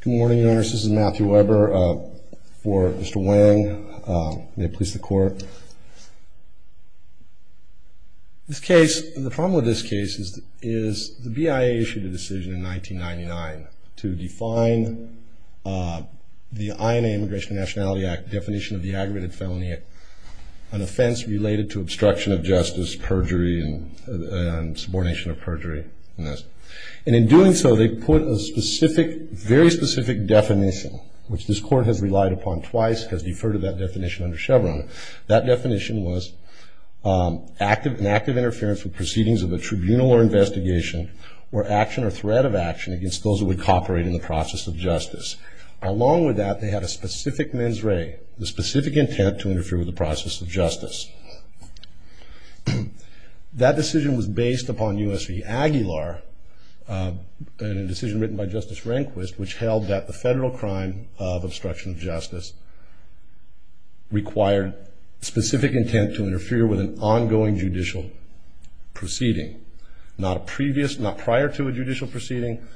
Good morning, Your Honor. This is Matthew Weber for Mr. Hoang. May it please the Court. This case, the problem with this case is the BIA issued a decision in 1999 to define the INA, Immigration and Nationality Act, definition of the aggravated felony, an offense related to obstruction of justice, perjury, and subordination of perjury. And in doing so, they put a specific, very specific definition, which this Court has relied upon twice, has deferred to that definition under Chevron. That definition was an act of interference with proceedings of a tribunal or investigation or action or threat of action against those who would cooperate in the process of justice. Along with that, they had a specific mens rea, the specific intent to interfere with the process of justice. That decision was based upon U.S. v. Aguilar and a decision written by Justice Rehnquist, which held that the federal crime of obstruction of justice required specific intent to interfere with an ongoing judicial proceeding. Not a previous, not prior to a judicial proceeding,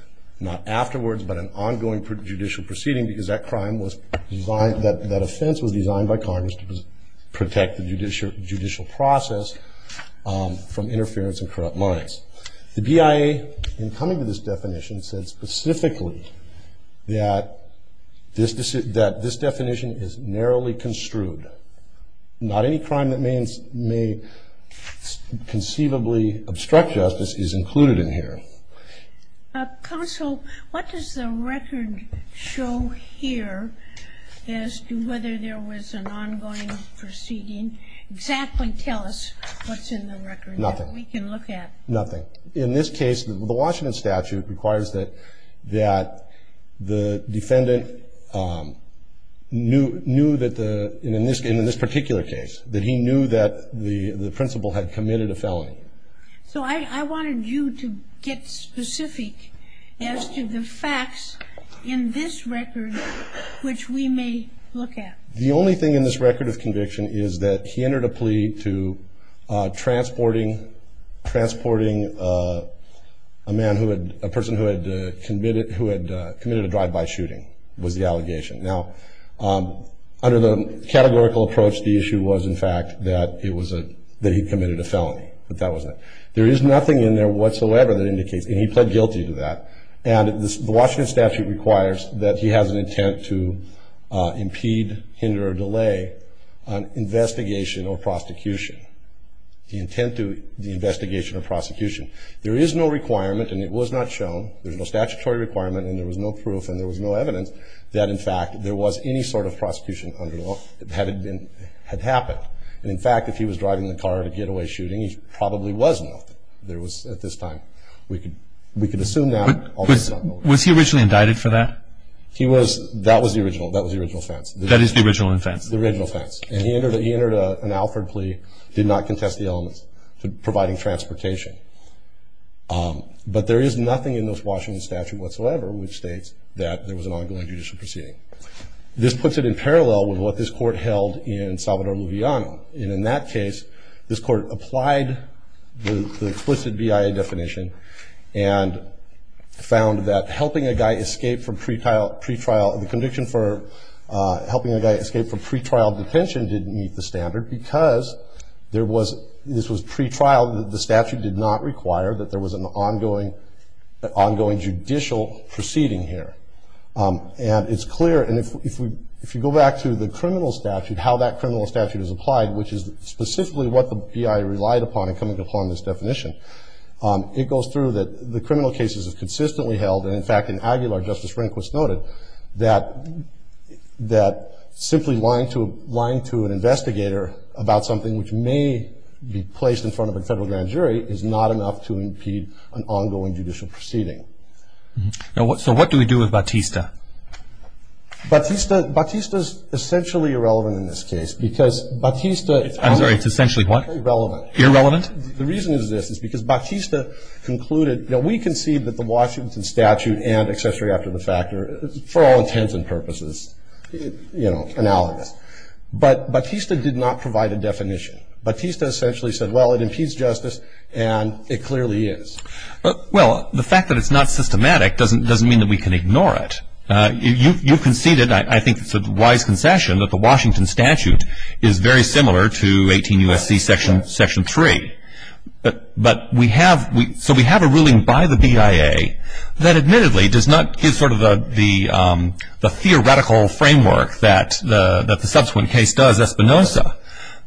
not afterwards, but an ongoing judicial proceeding, because that crime was designed, that offense was designed by Congress to protect the judicial process from interference and corrupt minds. The BIA, in coming to this definition, said specifically that this definition is narrowly construed. Not any crime that may conceivably obstruct justice is included in here. Counsel, what does the record show here as to whether there was an ongoing proceeding? Exactly tell us what's in the record that we can look at. Nothing. Nothing. In this case, the Washington statute requires that the defendant knew that the, in this particular case, that he knew that the principal had committed a felony. So I wanted you to get specific as to the facts in this record which we may look at. The only thing in this record of conviction is that he entered a plea to transporting, transporting a man who had, a person who had committed, who had committed a drive-by shooting was the allegation. Now, under the categorical approach, the issue was, in fact, that it was a, that he committed a felony. But that wasn't it. There is nothing in there whatsoever that indicates, and he pled guilty to that. And the Washington statute requires that he has an intent to impede, hinder, or delay an investigation or prosecution. The intent to, the investigation or prosecution. There is no requirement, and it was not shown, there's no statutory requirement, and there was no proof, and there was no evidence that, in fact, there was any sort of prosecution under the law that had been, had happened. And, in fact, if he was driving the car at a getaway shooting, he probably was involved. There was, at this time, we could, we could assume that. Was he originally indicted for that? He was, that was the original, that was the original offense. That is the original offense. The original offense. And he entered, he entered an Alford plea, did not contest the elements to providing transportation. But there is nothing in this Washington statute whatsoever which states that there was an ongoing judicial proceeding. This puts it in parallel with what this court held in Salvador Lujano. And in that case, this court applied the explicit BIA definition and found that helping a guy escape from pretrial, pretrial, the conviction for helping a guy escape from pretrial detention didn't meet the standard because there was, this was pretrial, the statute did not require that there was an ongoing, an ongoing judicial proceeding here. And it's clear, and if we, if you go back to the criminal statute, how that criminal statute is applied, which is specifically what the BIA relied upon in coming to upon this definition, it goes through that the criminal cases is consistently held. And, in fact, in Aguilar, Justice Rehnquist noted that, that simply lying to, lying to an investigator about something which may be placed in front of a federal grand jury is not enough to impede an ongoing judicial proceeding. Now, so what do we do with Batista? Batista, Batista's essentially irrelevant in this case because Batista. I'm sorry, it's essentially what? Irrelevant. Irrelevant? The reason is this, is because Batista concluded, you know, we concede that the Washington statute and accessory after the fact are, for all intents and purposes, you know, analogous. But Batista did not provide a definition. Batista essentially said, well, it impedes justice and it clearly is. Well, the fact that it's not systematic doesn't mean that we can ignore it. You conceded, I think it's a wise concession, that the Washington statute is very similar to 18 U.S.C. Section 3. But we have, so we have a ruling by the BIA that admittedly does not give sort of the theoretical framework that the subsequent case does, Espinoza,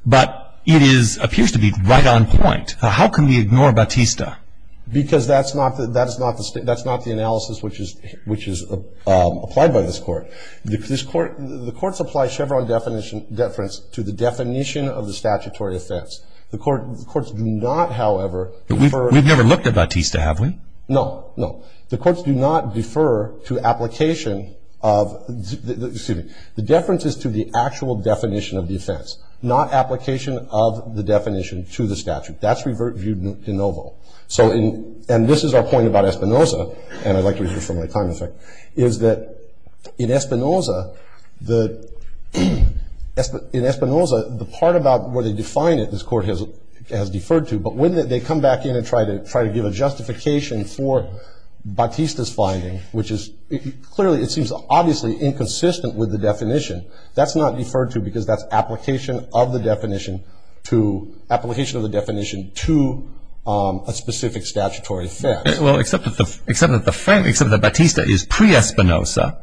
but it is, appears to be right on point. How can we ignore Batista? Because that's not the analysis which is applied by this court. The courts apply Chevron deference to the definition of the statutory offense. The courts do not, however, defer. We've never looked at Batista, have we? No, no. The courts do not defer to application of, excuse me, the deference is to the actual definition of the offense, not application of the definition to the statute. That's revert view de novo. So in, and this is our point about Espinoza, and I'd like to review from my time effect, is that in Espinoza, the, in Espinoza, the part about where they define it, this court has, has deferred to, but when they come back in and try to, try to give a justification for Batista's finding, which is clearly, it seems obviously inconsistent with the definition, that's not deferred to because that's application of the definition to, application of the definition to a specific statutory offense. Well, except that the, except that the, except that Batista is pre-Espinoza,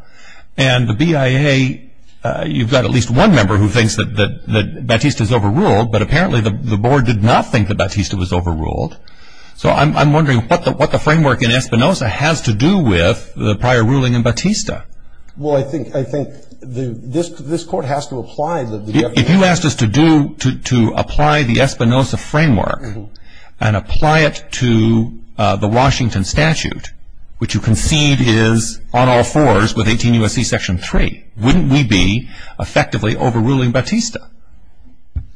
and the BIA, you've got at least one member who thinks that, that Batista's overruled, but apparently the board did not think that Batista was overruled. So I'm, I'm wondering what the, what the framework in Espinoza has to do with the prior ruling in Batista. Well, I think, I think the, this, this court has to apply the. If you asked us to do, to, to apply the Espinoza framework and apply it to the Washington statute, which you concede is on all fours with 18 U.S.C. Section 3, wouldn't we be effectively overruling Batista?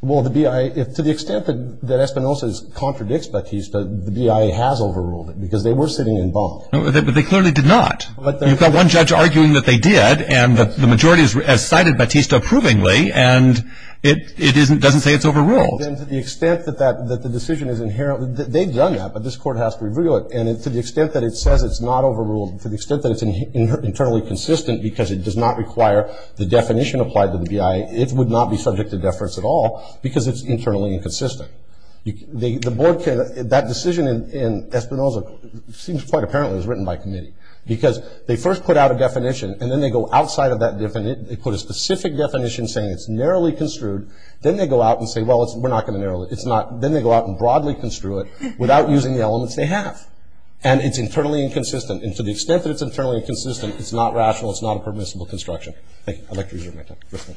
Well, the BIA, to the extent that, that Espinoza contradicts Batista, the BIA has overruled it because they were sitting in bond. But they clearly did not. You've got one judge arguing that they did, and the majority has cited Batista approvingly, and it, it isn't, doesn't say it's overruled. To the extent that that, that the decision is inherent, they've done that, but this court has to review it, and to the extent that it says it's not overruled, to the extent that it's internally consistent because it does not require the definition applied to the BIA, it would not be subject to deference at all because it's internally inconsistent. The, the board can, that decision in, in Espinoza seems quite apparently it was written by committee because they first put out a definition, and then they go outside of that definition, they put a specific definition saying it's narrowly construed, then they go out and say, well, it's, we're not going to narrow it, it's not, then they go out and broadly construe it without using the elements they have. And it's internally inconsistent, and to the extent that it's internally inconsistent, it's not rational, it's not a permissible construction. Thank you. I'd like to resume my time. Yes, ma'am.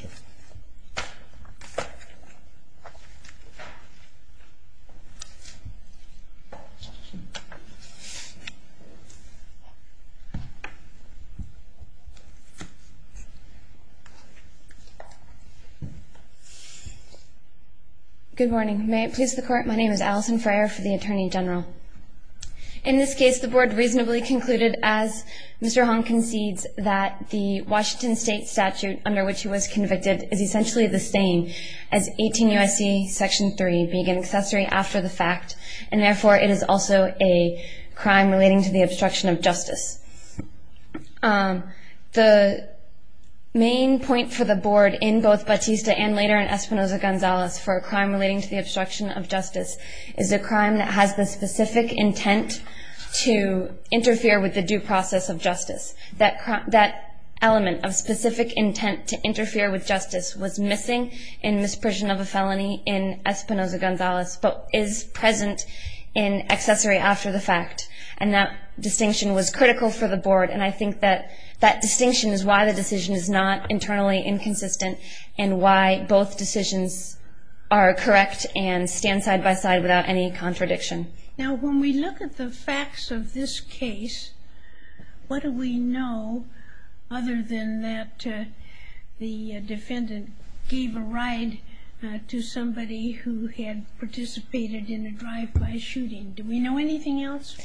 Good morning. May it please the Court. My name is Alison Freyer for the Attorney General. In this case, the board reasonably concluded, as Mr. Hong concedes, that the Washington State statute under which he was convicted is essentially the same as 18 U.S.C. Section 3 being an accessory after the fact, and therefore it is also a crime relating to the obstruction of justice. The main point for the board in both Batista and later in Espinoza-Gonzalez for a crime relating to the obstruction of justice is a crime that has the specific intent to interfere with the due process of justice. That element of specific intent to interfere with justice was missing in misprision of a felony in Espinoza-Gonzalez, but is present in accessory after the fact. And that distinction was critical for the board, and I think that that distinction is why the decision is not internally inconsistent and why both decisions are correct and stand side-by-side without any contradiction. Now, when we look at the facts of this case, what do we know other than that the defendant gave a ride to somebody who had participated in a drive-by shooting? Do we know anything else?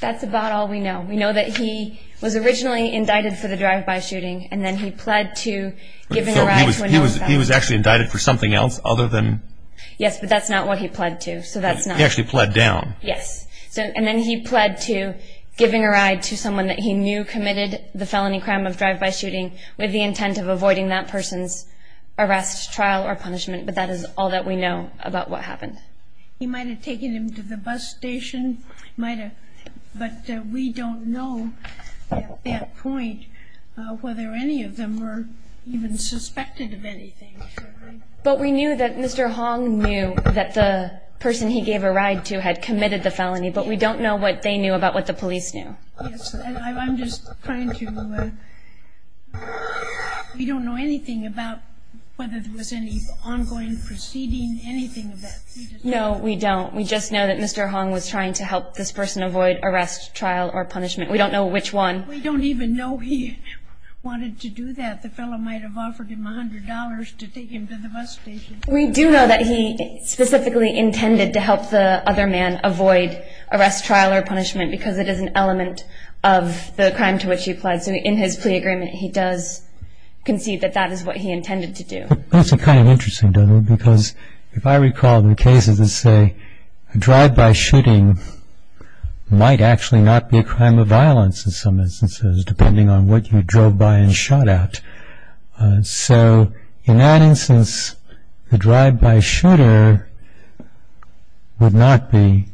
That's about all we know. We know that he was originally indicted for the drive-by shooting, and then he pled to giving a ride to another guy. So he was actually indicted for something else other than? Yes, but that's not what he pled to, so that's not. He actually pled down. Yes. And then he pled to giving a ride to someone that he knew committed the felony crime of drive-by shooting with the intent of avoiding that person's arrest, trial, or punishment, but that is all that we know about what happened. He might have taken him to the bus station. But we don't know at that point whether any of them were even suspected of anything. But we knew that Mr. Hong knew that the person he gave a ride to had committed the felony, but we don't know what they knew about what the police knew. Yes. I'm just trying to – we don't know anything about whether there was any ongoing proceeding, anything of that sort. No, we don't. We just know that Mr. Hong was trying to help this person avoid arrest, trial, or punishment. We don't know which one. We don't even know he wanted to do that. The fellow might have offered him $100 to take him to the bus station. We do know that he specifically intended to help the other man avoid arrest, trial, or punishment because it is an element of the crime to which he pled. So in his plea agreement, he does concede that that is what he intended to do. That's kind of interesting, doesn't it, because if I recall the cases that say a drive-by shooting might actually not be a crime of violence in some instances, depending on what you drove by and shot at. So in that instance, the drive-by shooter would not be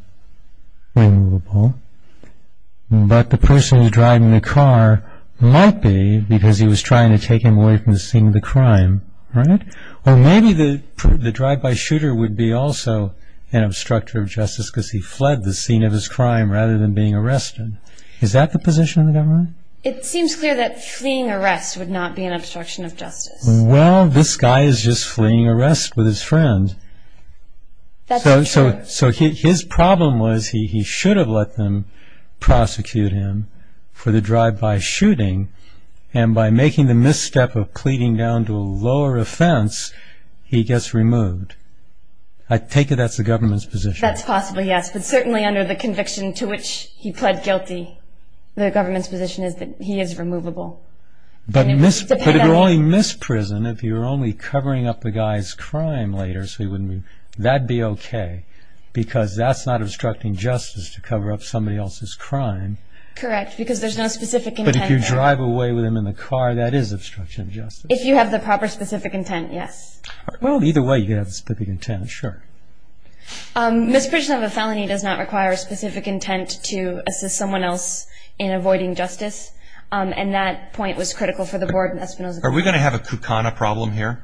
removable, but the person who was driving the car might be because he was trying to take him away from the scene of the crime. Or maybe the drive-by shooter would be also an obstruction of justice because he fled the scene of his crime rather than being arrested. Is that the position of the government? It seems clear that fleeing arrest would not be an obstruction of justice. Well, this guy is just fleeing arrest with his friend. So his problem was he should have let them prosecute him for the drive-by shooting and by making the misstep of pleading down to a lower offense, he gets removed. I take it that's the government's position. That's possibly, yes, but certainly under the conviction to which he pled guilty, the government's position is that he is removable. But if you're only misprisoned, if you're only covering up the guy's crime later, that would be okay because that's not obstructing justice to cover up somebody else's crime. Correct, because there's no specific intent there. If you drive away with him in the car, that is obstruction of justice. If you have the proper specific intent, yes. Well, either way, you could have a specific intent, sure. Misprision of a felony does not require a specific intent to assist someone else in avoiding justice, and that point was critical for the board in Espinoza County. Are we going to have a Kukana problem here?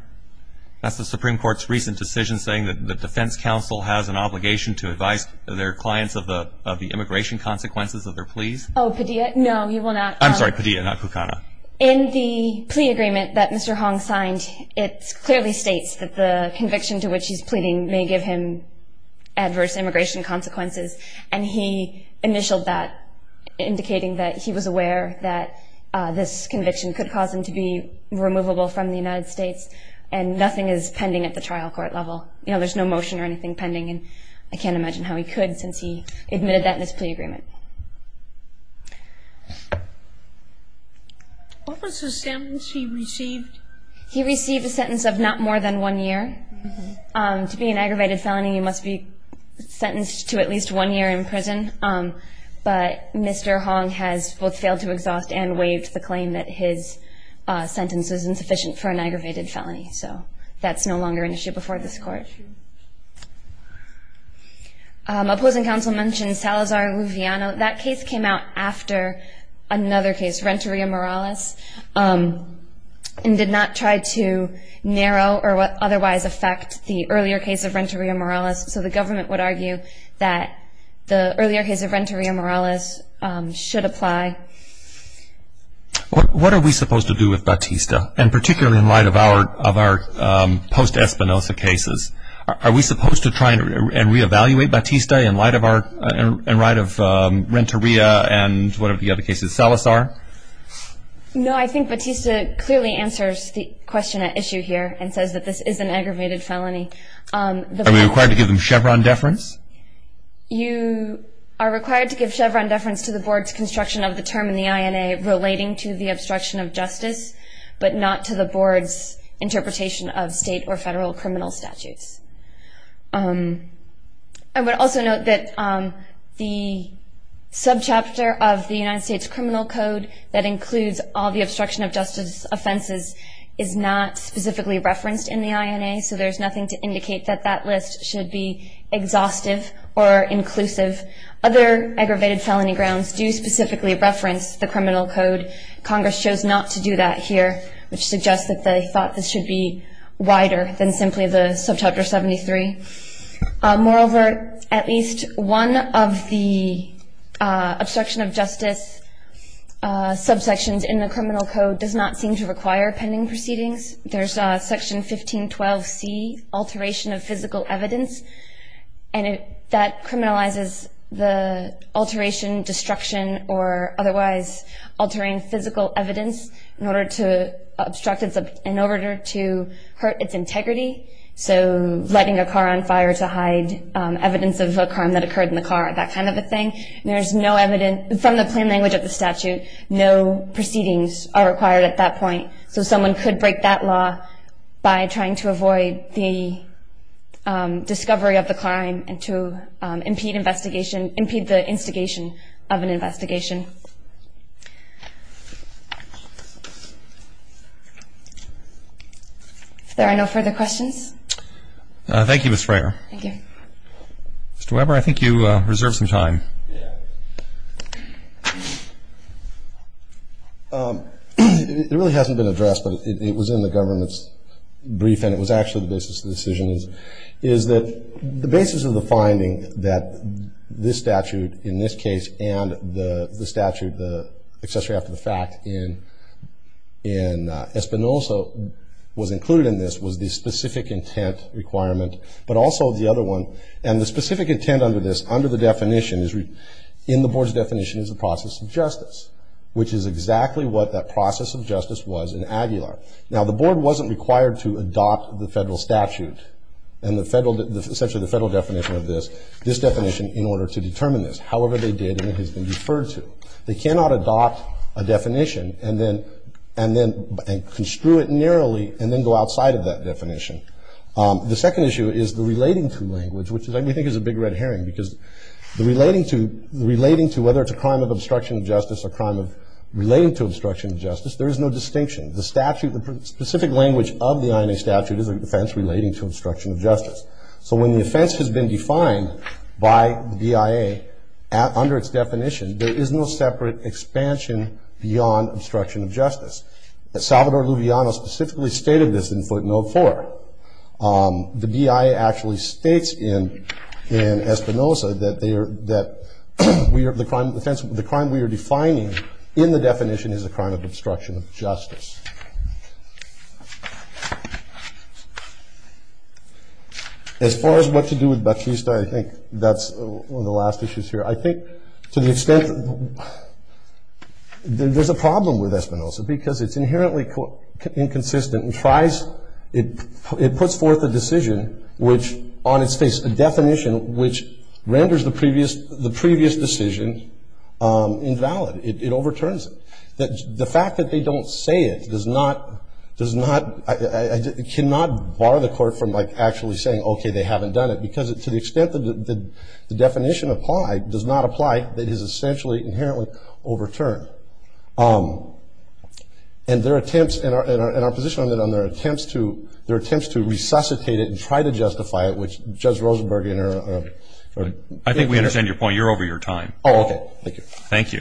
That's the Supreme Court's recent decision saying that the defense counsel has an obligation to advise their clients of the immigration consequences of their pleas. Oh, Padilla? No, he will not. I'm sorry, Padilla, not Kukana. In the plea agreement that Mr. Hong signed, it clearly states that the conviction to which he's pleading may give him adverse immigration consequences, and he initialed that indicating that he was aware that this conviction could cause him to be removable from the United States, and nothing is pending at the trial court level. You know, there's no motion or anything pending, and I can't imagine how he could since he admitted that in his plea agreement. What was the sentence he received? He received a sentence of not more than one year. To be an aggravated felony, you must be sentenced to at least one year in prison, but Mr. Hong has both failed to exhaust and waived the claim that his sentence is insufficient for an aggravated felony, so that's no longer an issue before this Court. Opposing counsel mentioned Salazar-Luviano. That case came out after another case, Renteria-Morales, and did not try to narrow or otherwise affect the earlier case of Renteria-Morales, so the government would argue that the earlier case of Renteria-Morales should apply. What are we supposed to do with Batista, and particularly in light of our post-Espinosa cases? Are we supposed to try and reevaluate Batista in light of Renteria and one of the other cases, Salazar? No, I think Batista clearly answers the question at issue here and says that this is an aggravated felony. Are we required to give him Chevron deference? You are required to give Chevron deference to the Board's construction of the term in the INA relating to the obstruction of justice, but not to the Board's interpretation of state or federal criminal statutes. I would also note that the subchapter of the United States Criminal Code that includes all the obstruction of justice offenses is not specifically referenced in the INA, so there's nothing to indicate that that list should be exhaustive or inclusive. Other aggravated felony grounds do specifically reference the criminal code. Congress chose not to do that here, which suggests that they thought this should be wider than simply the subchapter 73. Moreover, at least one of the obstruction of justice subsections in the criminal code does not seem to require pending proceedings. There's Section 1512C, alteration of physical evidence, and that criminalizes the alteration, destruction, or otherwise altering physical evidence in order to hurt its integrity, so letting a car on fire to hide evidence of a crime that occurred in the car, that kind of a thing. From the plain language of the statute, no proceedings are required at that point, so someone could break that law by trying to avoid the discovery of the crime and to impede investigation, impede the instigation of an investigation. If there are no further questions. Thank you, Ms. Frayer. Thank you. Mr. Weber, I think you reserved some time. It really hasn't been addressed, but it was in the government's brief, and it was actually the basis of the decision, is that the basis of the finding that this statute in this case and the statute, the accessory after the fact in Espinosa, was included in this was the specific intent requirement, but also the other one. And the specific intent under this, under the definition, in the board's definition is the process of justice, which is exactly what that process of justice was in Aguilar. Now, the board wasn't required to adopt the federal statute and essentially the federal definition of this, this definition, in order to determine this. However, they did, and it has been deferred to. They cannot adopt a definition and then construe it narrowly and then go outside of that definition. The second issue is the relating to language, which we think is a big red herring because the relating to, whether it's a crime of obstruction of justice or a crime of relating to obstruction of justice, there is no distinction. The statute, the specific language of the INA statute is a defense relating to obstruction of justice. So when the offense has been defined by the BIA under its definition, there is no separate expansion beyond obstruction of justice. Salvador Lujano specifically stated this in footnote four. The BIA actually states in Espinosa that they are, that the crime, the offense, the crime we are defining in the definition is a crime of obstruction of justice. As far as what to do with Batista, I think that's one of the last issues here. I think to the extent, there's a problem with Espinosa because it's inherently inconsistent and tries, it puts forth a decision which on its face, a definition which renders the previous decision invalid. It overturns it. The fact that they don't say it does not, does not, cannot bar the court from like actually saying, okay, they haven't done it. Because to the extent that the definition applied does not apply, it is essentially inherently overturned. And their attempts, and our position on their attempts to, their attempts to resuscitate it and try to justify it, which Judge Rosenberg. I think we understand your point. You're over your time. Oh, okay. Thank you. Thank you.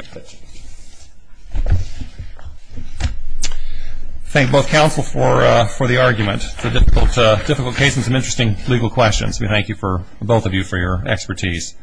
Thank both counsel for the argument, for difficult cases and interesting legal questions. We thank you, both of you, for your expertise.